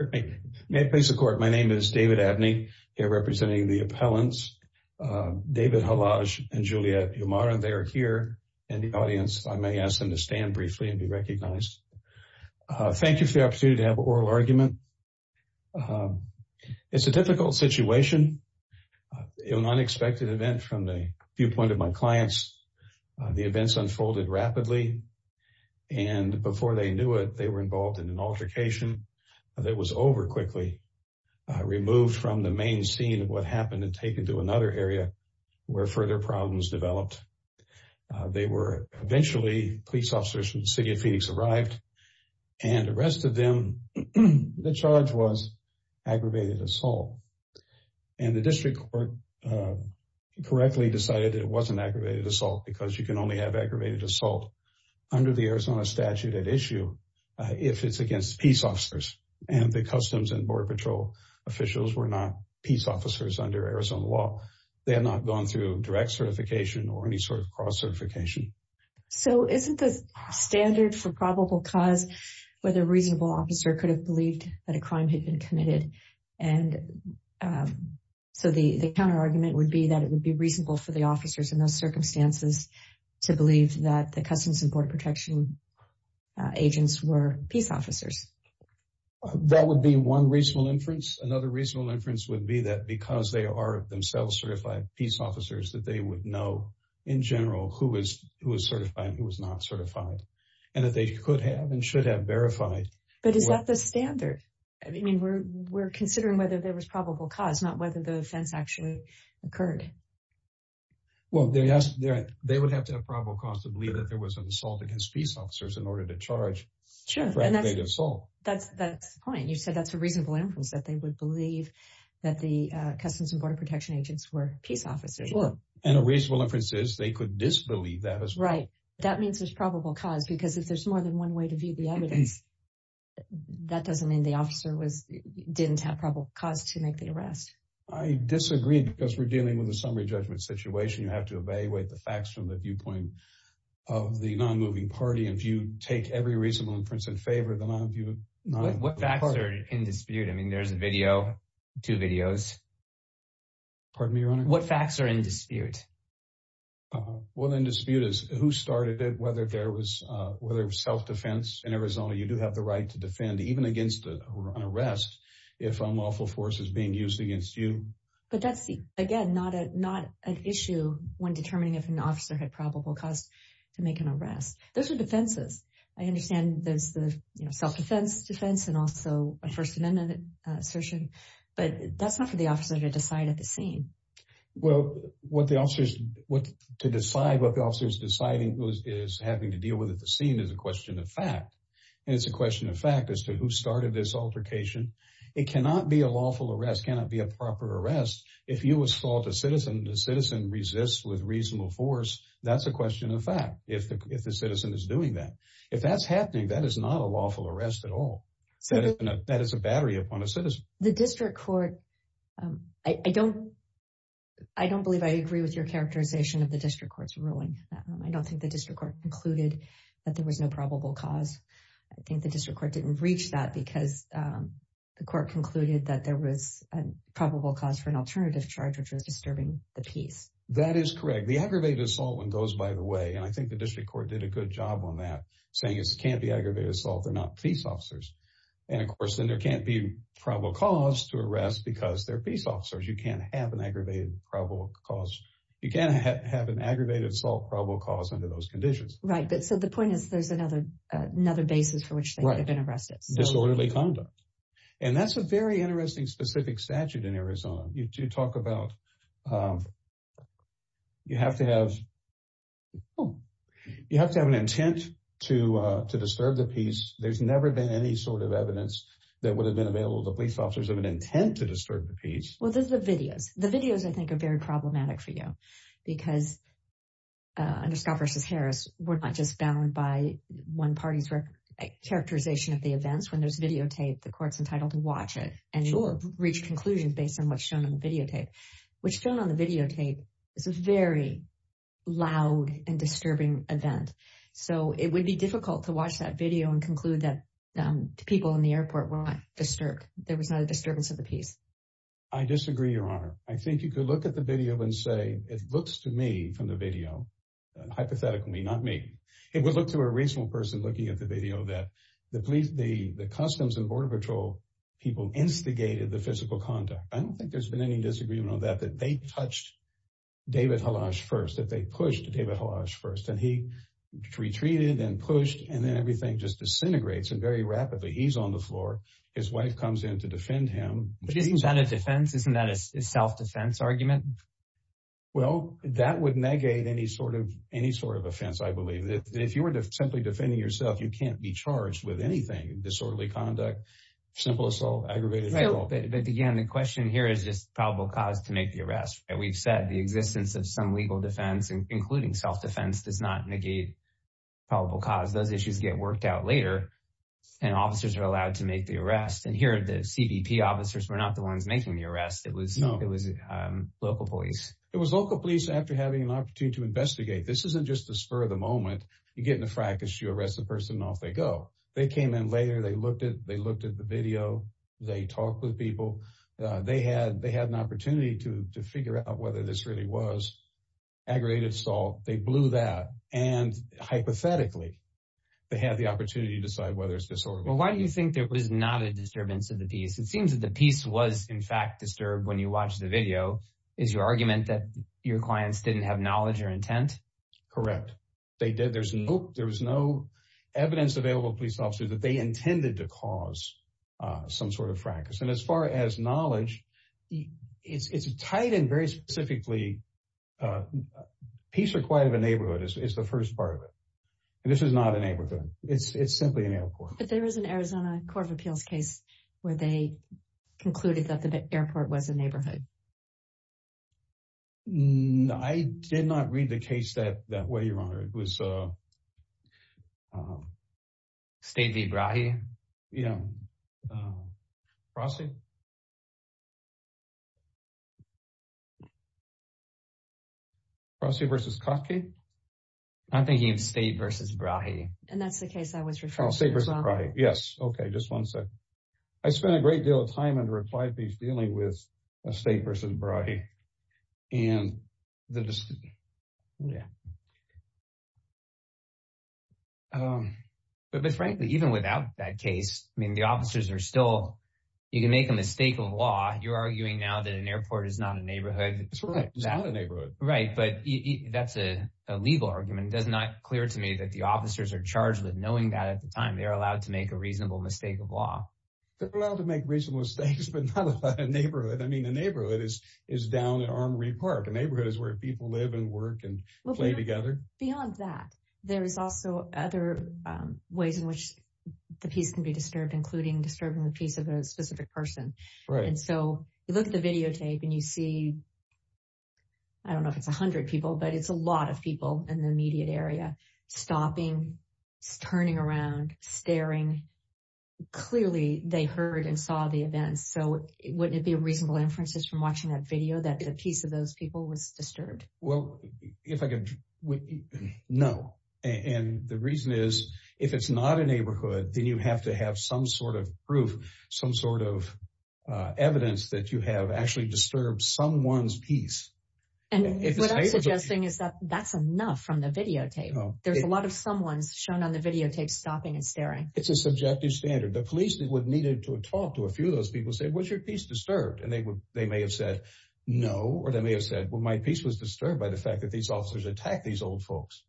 May it please the court, my name is David Abney, here representing the appellants, David Khalaj and Juliet Yamara. They are here in the audience. I may ask them to stand briefly and be recognized. Thank you for the opportunity to have an oral argument. It's a difficult situation, an unexpected event from the viewpoint of my clients. The events unfolded rapidly and before they knew it, they were involved in an altercation that was over quickly, removed from the main scene of what happened and taken to another area where further problems developed. They were eventually, police officers from the City of Phoenix arrived and arrested them. The charge was aggravated assault and the district court correctly decided that it wasn't aggravated assault under the Arizona statute at issue if it's against peace officers and the Customs and Border Patrol officials were not peace officers under Arizona law. They had not gone through direct certification or any sort of cross certification. So isn't the standard for probable cause where the reasonable officer could have believed that a crime had been committed and so the counter argument would be that it would be reasonable for the officers in those circumstances to believe that the Customs and Border Protection agents were peace officers. That would be one reasonable inference. Another reasonable inference would be that because they are themselves certified peace officers that they would know in general who was certified and who was not certified and that they could have and should have verified. But is that the standard? I mean, we're considering whether there was probable cause, not whether the offense actually occurred. Well, they would have to have probable cause to believe that there was an assault against peace officers in order to charge aggravated assault. That's the point. You said that's a reasonable inference that they would believe that the Customs and Border Protection agents were peace officers. And a reasonable inference is they could disbelieve that as well. Right. That means there's probable cause because if there's more than one way to view the evidence, that doesn't mean the I disagreed because we're dealing with a summary judgment situation. You have to evaluate the facts from the viewpoint of the non-moving party. If you take every reasonable inference in favor of the non-moving party. What facts are in dispute? I mean, there's a video, two videos. Pardon me, Your Honor? What facts are in dispute? Well, in dispute is who started it, whether there was self-defense. In Arizona, you do have the right to defend even against those who are on arrest if unlawful force is being used against you. But that's again, not an issue when determining if an officer had probable cause to make an arrest. Those are defenses. I understand there's the self-defense defense and also a First Amendment assertion. But that's not for the officer to decide at the scene. Well, what the officers to decide what the officers deciding is having to deal with at the scene is a question of fact. And it's a question of fact as to who started this altercation. It cannot be a lawful arrest, cannot be a proper arrest. If you assault a citizen, the citizen resists with reasonable force. That's a question of fact. If the citizen is doing that, if that's happening, that is not a lawful arrest at all. So that is a battery upon a citizen. The district court. I don't I don't believe I agree with your characterization of the district court's ruling. I don't think the district court concluded that there was no probable cause. I think the district court didn't reach that because the court concluded that there was a probable cause for an alternative charge, which was disturbing the peace. That is correct. The aggravated assault one goes by the way. And I think the district court did a good job on that, saying it can't be aggravated assault. They're not peace officers. And of course, then there can't be probable cause to arrest because they're peace officers. You can't have an aggravated probable cause. You can't have an aggravated assault probable cause under those conditions. Right. But so the point is, there's another another basis for which they've been arrested. Disorderly conduct. And that's a very interesting, specific statute in Arizona. You do talk about you have to have you have to have an intent to to disturb the peace. There's never been any sort of evidence that would have been available to police officers of an intent to disturb the peace. Well, there's the videos. The videos, I think, are very problematic for you because under Scott v. Harris, we're not just bound by one party's characterization of the events. When there's videotape, the court's entitled to watch it and reach conclusions based on what's shown on the videotape, which shown on the videotape is a very loud and disturbing event. So it would be difficult to watch that video and conclude that people in the airport were disturbed. There was not a disturbance of the peace. I disagree, Your Honor. I think you could look at the video and say it looks to me from the video. Hypothetically, not me. It would look to a reasonable person looking at the video that the police, the Customs and Border Patrol people instigated the physical conduct. I don't think there's been any disagreement on that, that they touched David Halash first, that they pushed David Halash first and he retreated and pushed and then everything just fell on the floor. His wife comes in to defend him. But isn't that a defense? Isn't that a self-defense argument? Well, that would negate any sort of offense, I believe. If you were simply defending yourself, you can't be charged with anything, disorderly conduct, simple assault, aggravated assault. But again, the question here is just probable cause to make the arrest. We've said the existence of some legal defense, including self-defense, does not negate probable cause. Those issues get worked out later and officers are allowed to make the arrest. And here the CBP officers were not the ones making the arrest. It was local police. It was local police after having an opportunity to investigate. This isn't just a spur of the moment. You get in a fracas, you arrest the person and off they go. They came in later, they looked at the video, they talked with people, they had an opportunity to figure out whether this really was aggravated assault. They blew that. And hypothetically, they had the opportunity to decide whether it's disorderly conduct. Well, why do you think there was not a disturbance of the peace? It seems that the peace was in fact disturbed when you watched the video. Is your argument that your clients didn't have knowledge or intent? Correct. They did. There was no evidence available to police officers that they intended to cause some sort of fracas. And as far as knowledge, it's tied in very specifically. Peace or quiet of a neighborhood is the first part of it. And this is not a neighborhood. It's simply an airport. But there was an Arizona Court of Appeals case where they concluded that the airport was a neighborhood. I did not read the case that way, Your Honor. It was State v. Brahe? Yeah. Brahe? Brahe v. Kotke? I'm thinking of State v. Brahe. And that's the case I was referring to as well. Oh, State v. Brahe. Yes. Okay. Just one second. I spent a great deal of time under applied peace dealing with a State v. Brahe. But frankly, even without that case, I mean, the officers are still, you can make a mistake of law. You're arguing now that an airport is not a neighborhood. That's right. It's not a neighborhood. Right. But that's a legal argument. It's not clear to me that the officers are charged with knowing that at the time. They're allowed to make a reasonable mistake of law. They're allowed to make reasonable mistakes, but not about a neighborhood. I mean, a neighborhood is down at Armory Park. A neighborhood is where people live and work and play together. Beyond that, there is also other ways in which the peace can be disturbed, including disturbing the peace of a specific person. Right. And so you look at the videotape and you see, I don't know if it's 100 people, but it's a lot of people in the immediate area stopping, turning around, staring. Clearly, they heard and saw the events. So wouldn't it be a reasonable inference just from watching that video that the peace of those people was disturbed? Well, if I could, no. And the reason is, if it's not a neighborhood, then you have to have some sort of proof, some sort of evidence that you have actually disturbed someone's peace. And what I'm suggesting is that that's enough from the videotape. There's a lot of someone's shown on the videotape stopping and staring. It's a subjective standard. The police would need to talk to a few of those people and say, was your peace disturbed? And they may have said no, or they may have said, well, my peace was disturbed by the fact that these officers attacked these old folks.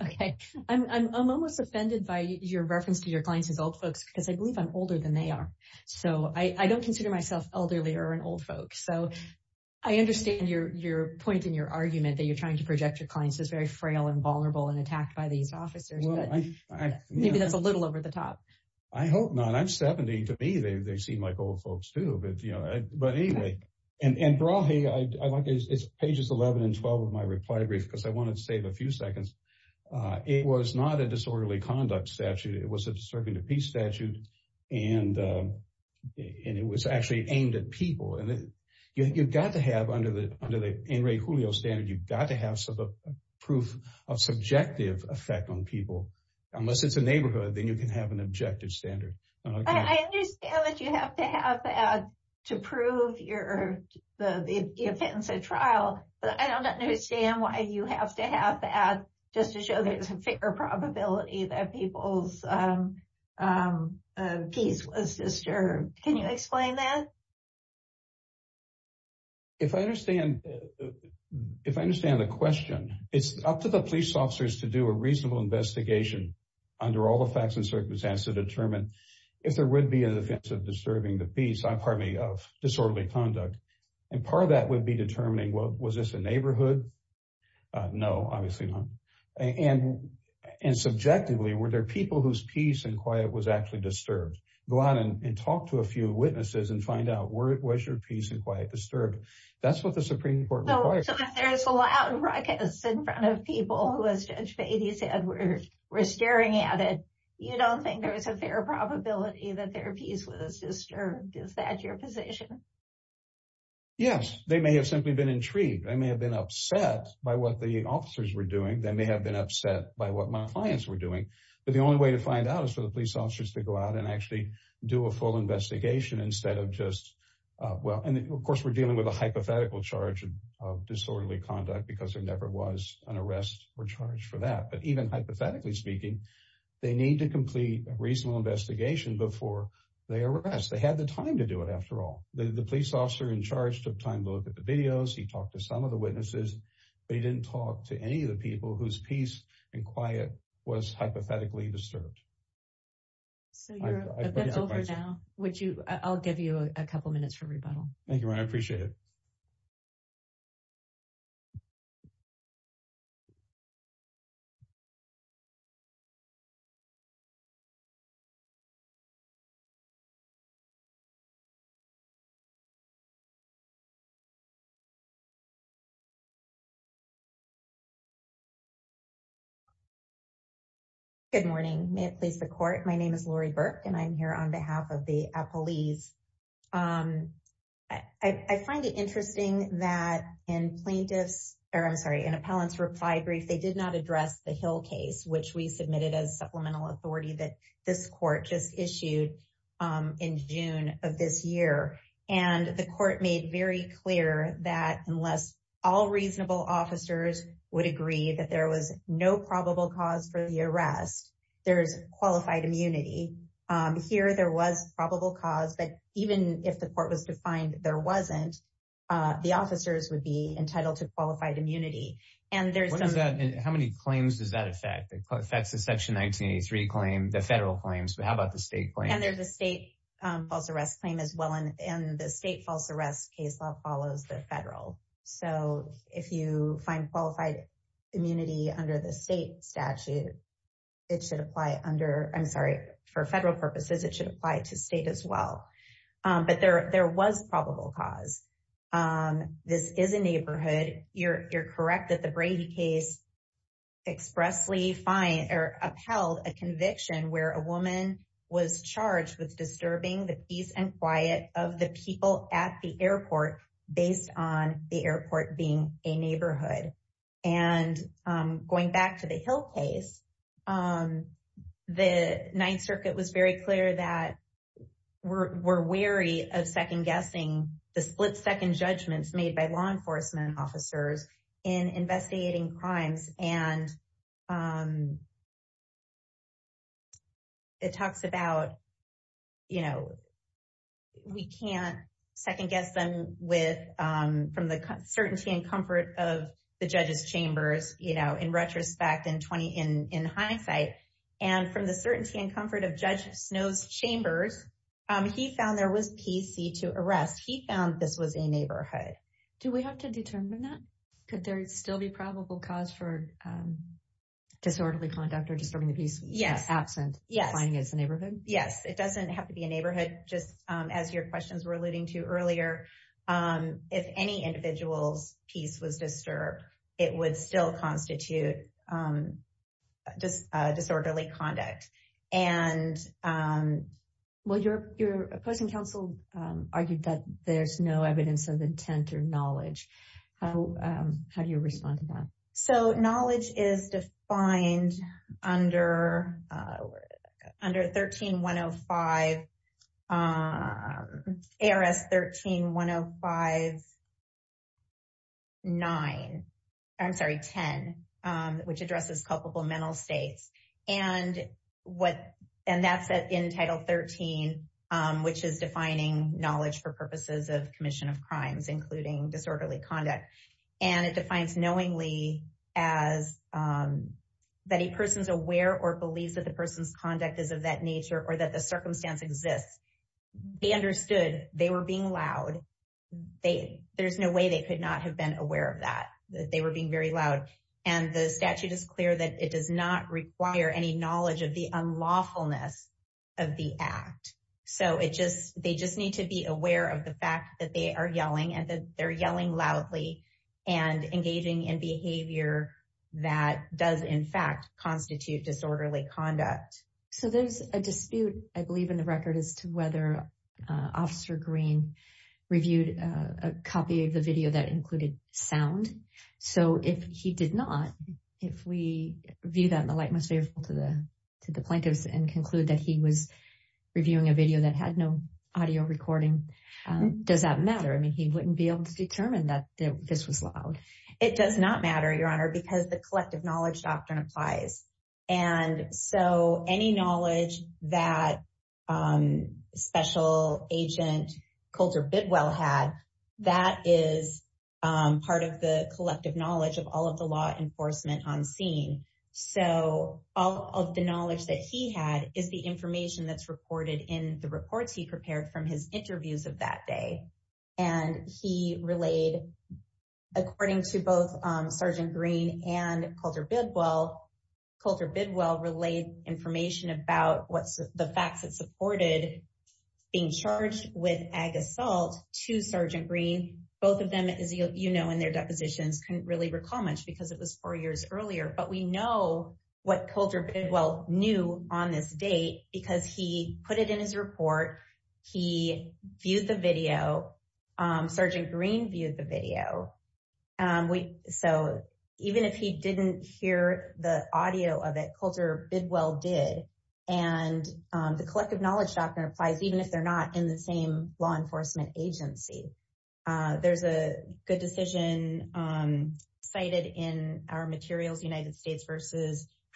Okay. I'm almost offended by your reference to your clients as old folks because I believe I'm older than they are. So I don't consider myself elderly or an old folk. So I understand your point in your argument that you're trying to project your clients as very frail and vulnerable and attacked by these officers. Maybe that's a little over the top. I hope not. I'm 70. To me, they seem like old folks too. But anyway. And Brahe, I'd like pages 11 and 12 of my reply brief because I wanted to save a few seconds. It was not a disorderly conduct statute. It was a disturbing to peace statute. And it was actually aimed at people. And you've got to have under the In Re Julio standard, you've got to have proof of subjective effect on people. Unless it's a neighborhood, then you can have an objective standard. I understand that you have to have that to prove your offense at trial. But I don't understand why you have to have that just to show there's a fair probability that people's peace was disturbed. Can you explain that? If I understand, if I understand the question, it's up to the police officers to do a reasonable investigation under all the facts and circumstances to determine if there would be an offense of disturbing the peace, pardon me, of disorderly conduct. And part of that would be determining was this a neighborhood? No, obviously not. And subjectively, were there people whose peace and quiet was actually disturbed? Go out and talk to a few witnesses and find out was your peace and quiet disturbed? That's what the Supreme Court requires. So if there's a loud ruckus in front of people who, as Judge Beatty said, were staring at it, you don't think there's a fair probability that their peace was disturbed? Is that your Yes, they may have simply been intrigued. I may have been upset by what the officers were doing. They may have been upset by what my clients were doing. But the only way to find out is for the police officers to go out and actually do a full investigation instead of just well. And of course, we're dealing with a hypothetical charge of disorderly conduct because there never was an arrest or charge for that. But even hypothetically speaking, they need to complete a reasonable investigation before they arrest. They had the time to do it. After all, the police officer in charge took time to look at the videos. He talked to some of the witnesses, but he didn't talk to any of the people whose peace and quiet was hypothetically disturbed. So you're over now. Would you I'll give you a couple minutes for rebuttal. Thank you. I appreciate it. Good morning, may it please the court. My name is Lori Burke, and I'm here on behalf of the police. I find it interesting that in plaintiffs, or I'm sorry, an appellant's reply brief, they did not address the Hill case, which we submitted as supplemental authority that this court just issued in June of this year. And the court made very clear that unless all reasonable officers would agree that there was no probable cause for the arrest, there's qualified immunity. Here, there was probable cause that even if the court was defined, there wasn't, the officers would be entitled to qualified immunity. And there's that. And how many claims does that affect? That's the section 1983 claim, the federal claims, but how about the state claim? And there's a state false arrest claim as well. And the state false arrest case law follows the federal. So if you find qualified immunity under the state statute, it should apply under, I'm sorry, for federal purposes, it should apply to state as well. But there was probable cause. This is a neighborhood, you're correct that the Brady case expressly fined or upheld a conviction where a woman was charged with disturbing the peace and quiet of the people at the airport based on the airport being a neighborhood. And going back to the Hill case, the Ninth Circuit was very clear that we're wary of second guessing the split second judgments made by law enforcement officers in investigating crimes. And it talks about, you know, we can't second guess them from the certainty and comfort of the judge's chambers, you know, in retrospect, in hindsight, and from the certainty and comfort of Judge Snow's chambers, he found there was PC to arrest. He found this was a neighborhood. Do we have to determine that? Could there still be probable cause for disorderly conduct or disturbing the peace? Yes. Absent. Yes. Fine. It's a neighborhood. Yes. It doesn't have to be a neighborhood. Just as your questions were alluding to earlier, if any individual's piece was disturbed, it would still constitute just there's no evidence of intent or knowledge. How do you respond to that? So knowledge is defined under under 13105, ARS 131059, I'm sorry, 10, which addresses culpable mental And what? And that's in Title 13, which is defining knowledge for purposes of commission of crimes, including disorderly conduct. And it defines knowingly as that a person's aware or believes that the person's conduct is of that nature or that the circumstance exists. They understood they were being loud. They there's no way they could not have been aware of that, that they were being very loud. And the statute is clear that it does not require any knowledge of the unlawfulness of the act. So it just they just need to be aware of the fact that they are yelling and that they're yelling loudly and engaging in behavior that does, in fact, constitute disorderly conduct. So there's a dispute, I believe, in the record as to whether Officer Green reviewed a copy of the video that included sound. So if he did not, if we view that in the light most faithful to the to the plaintiffs and conclude that he was reviewing a video that had no audio recording, does that matter? I mean, he wouldn't be able to determine that this was loud. It does not matter, Your Honor, because the collective knowledge doctrine applies. And so any knowledge that special agent Colter Bidwell had, that is part of the collective knowledge of all of the law enforcement on scene. So all of the knowledge that he had is the information that's reported in the reports he prepared from his interviews of that day. And he relayed, according to both Sergeant Green and Colter Bidwell, Colter Bidwell relayed information about what's the facts that supported being charged with ag assault to Sergeant Green. Both of them, as you know, in their depositions couldn't really recall much because it was four years earlier. But we know what Colter Bidwell knew on this date because he put it in his report. He viewed the video. Sergeant Green viewed the video. So even if he didn't hear the audio of it, Colter Bidwell did. And the collective knowledge doctrine applies even if they're not in the same law enforcement agency. There's a good decision cited in our materials, United States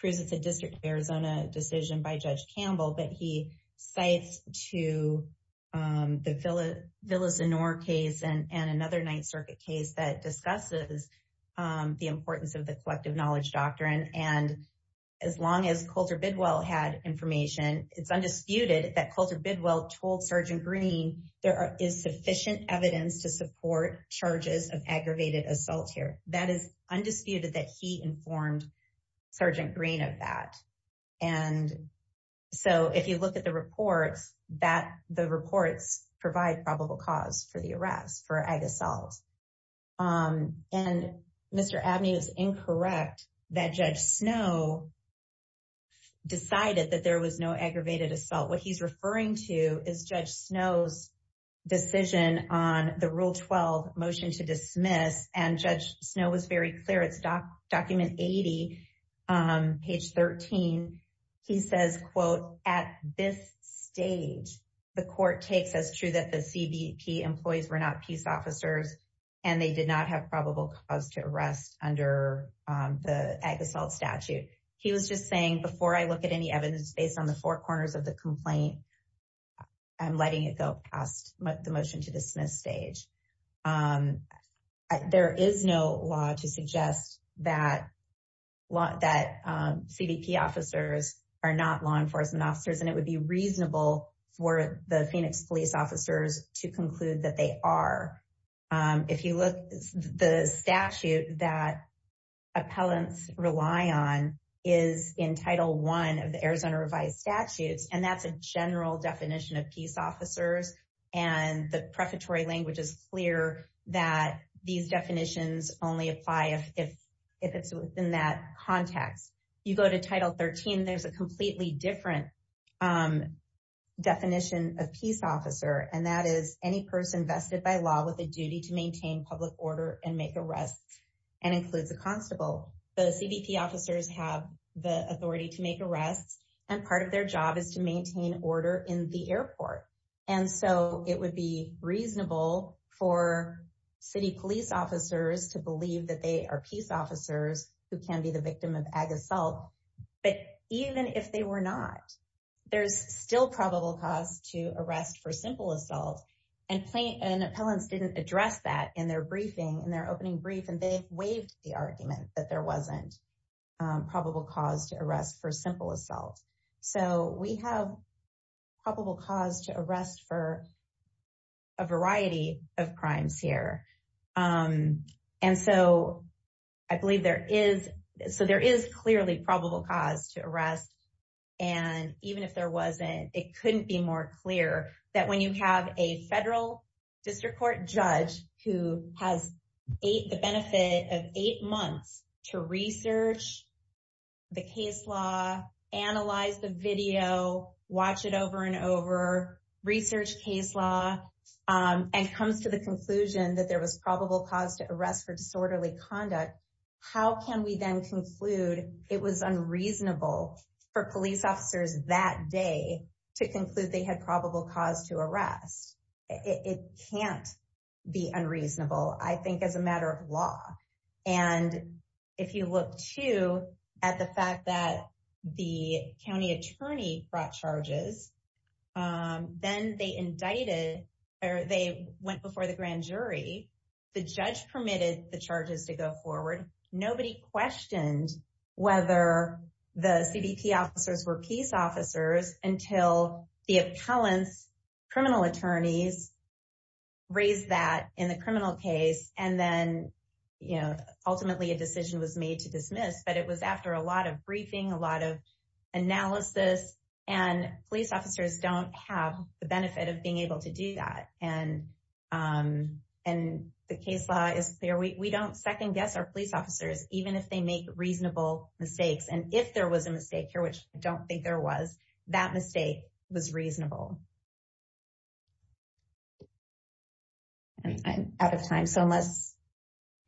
District of Arizona decision by Judge Campbell, but he cites to the Villasenor case and another Ninth Circuit case that discusses the importance of the collective knowledge doctrine. And as long as Colter Bidwell had information, it's undisputed that Colter Bidwell told Sergeant Green there is sufficient evidence to support charges of aggravated assault here. That is Sergeant Green of that. And so if you look at the reports, that the reports provide probable cause for the arrest for ag assault. And Mr. Abney is incorrect that Judge Snow decided that there was no aggravated assault. What he's referring to is Judge Snow's decision on the Rule 12 motion to dismiss. And Judge Snow was very clear. It's document 80, page 13. He says, quote, at this stage, the court takes as true that the CBP employees were not peace officers and they did not have probable cause to arrest under the ag assault statute. He was just saying before I look at any evidence based on the four corners of the complaint, I'm letting it go past the motion to dismiss stage. There is no law to suggest that CBP officers are not law enforcement officers and it would be reasonable for the Phoenix police officers to conclude that they are. If you look at the statute that appellants rely on is in title one of the Arizona revised statutes. And that's a general definition of peace officers. And the prefatory language is clear that these definitions only apply if it's within that context. You go to title 13, there's a completely different definition of peace officer. And that is any person vested by law with a duty to maintain public order and make arrests and includes a constable. The CBP officers have the authority to make arrests and part of their job is to maintain order in the airport. And so it would be reasonable for city police officers to believe that they are peace officers who can be the victim of ag assault. But even if they were not, there's still probable cause to arrest for simple assault and plain and appellants didn't address that in their briefing in their opening brief and they've waived the argument that there wasn't probable cause to arrest for simple assault. So we have probable cause to arrest for a variety of crimes here. And so I believe there is. So there is clearly probable cause to arrest. And even if there wasn't, it couldn't be more clear that when you have a federal district court judge who has eight the benefit of eight months to research the case law, analyze the video, watch it over and over research case law, and comes to the conclusion that there was probable cause to arrest for disorderly conduct. How can we then conclude it was unreasonable for police officers that day to conclude they had probable cause to arrest? It can't be unreasonable, I think as a matter of law. And if you look to at the fact that the county attorney brought charges, then they indicted or they went before the grand jury, the judge permitted the charges to go forward. Nobody questioned whether the CBP officers were peace officers until the appellants, criminal attorneys raised that in the criminal case. And then, you know, ultimately, a decision was made to dismiss, but it was after a lot of briefing, a lot of analysis, and police officers don't have the benefit of being able to do that. And the case law is clear. We don't second guess our police officers, even if they make reasonable mistakes. And if there was a mistake here, which I don't think there was, that mistake was reasonable. I'm out of time. So unless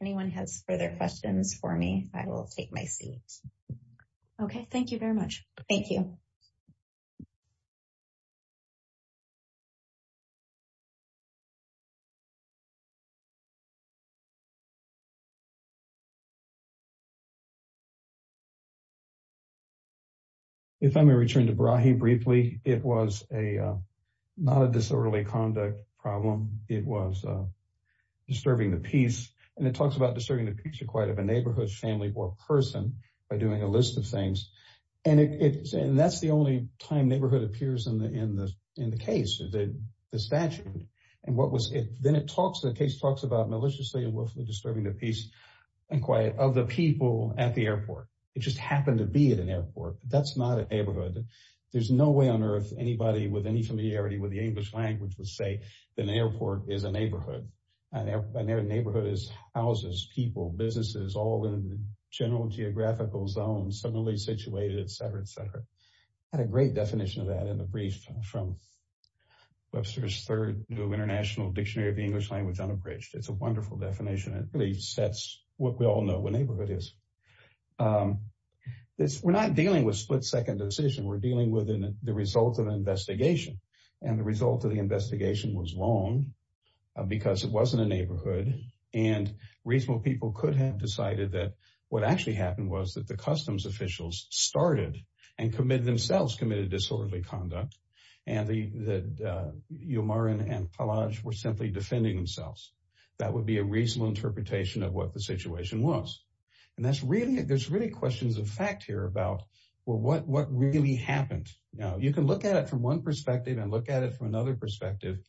anyone has further questions for me, I will take my seat. Okay, thank you very much. Thank you. If I may return to Brahe briefly, it was not a disorderly conduct problem. It was disturbing the peace. And it talks about disturbing the peace and quiet of a neighborhood, family or person by doing a list of things. And that's the only time neighborhood appears in the case, the statute. And what was it? Then it talks, the case talks about maliciously and willfully disturbing the peace and quiet of the people at the airport. It just happened to be at an airport. That's not a neighborhood. There's no way on earth anybody with any familiarity with the English language would say that an airport is a neighborhood. A neighborhood is houses, people, businesses, all in general geographical zones, similarly situated, et cetera. We had a great definition of that in the brief from Webster's Third New International Dictionary of the English Language Unabridged. It's a wonderful definition. It really sets what we all know what neighborhood is. We're not dealing with split-second decision. We're dealing with the result of an investigation. And the result of the investigation was wrong because it wasn't a neighborhood. And reasonable people could have decided that what actually happened was that the customs officials started and committed themselves committed disorderly conduct. And that Umar and Palaj were simply defending themselves. That would be a reasonable interpretation of what the situation was. And that's really, there's really questions of fact here about, well, what really happened? Now, you can look at it from one perspective and look at it from another perspective,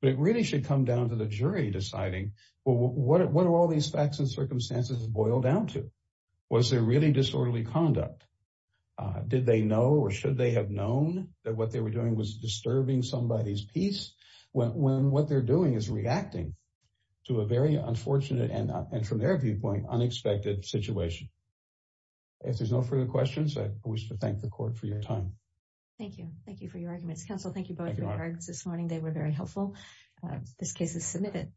but it really should come down to the jury deciding, well, what are all these facts and circumstances boil down to? Was there really disorderly conduct? Did they know or should they have known that what they were doing was disturbing somebody's peace? When what they're doing is reacting to a very unfortunate and from their viewpoint, unexpected situation. If there's no further questions, I wish to thank the court for your time. Thank you. Thank you for your arguments. Counsel, thank you both for your arguments this morning. They were very helpful. This case is submitted.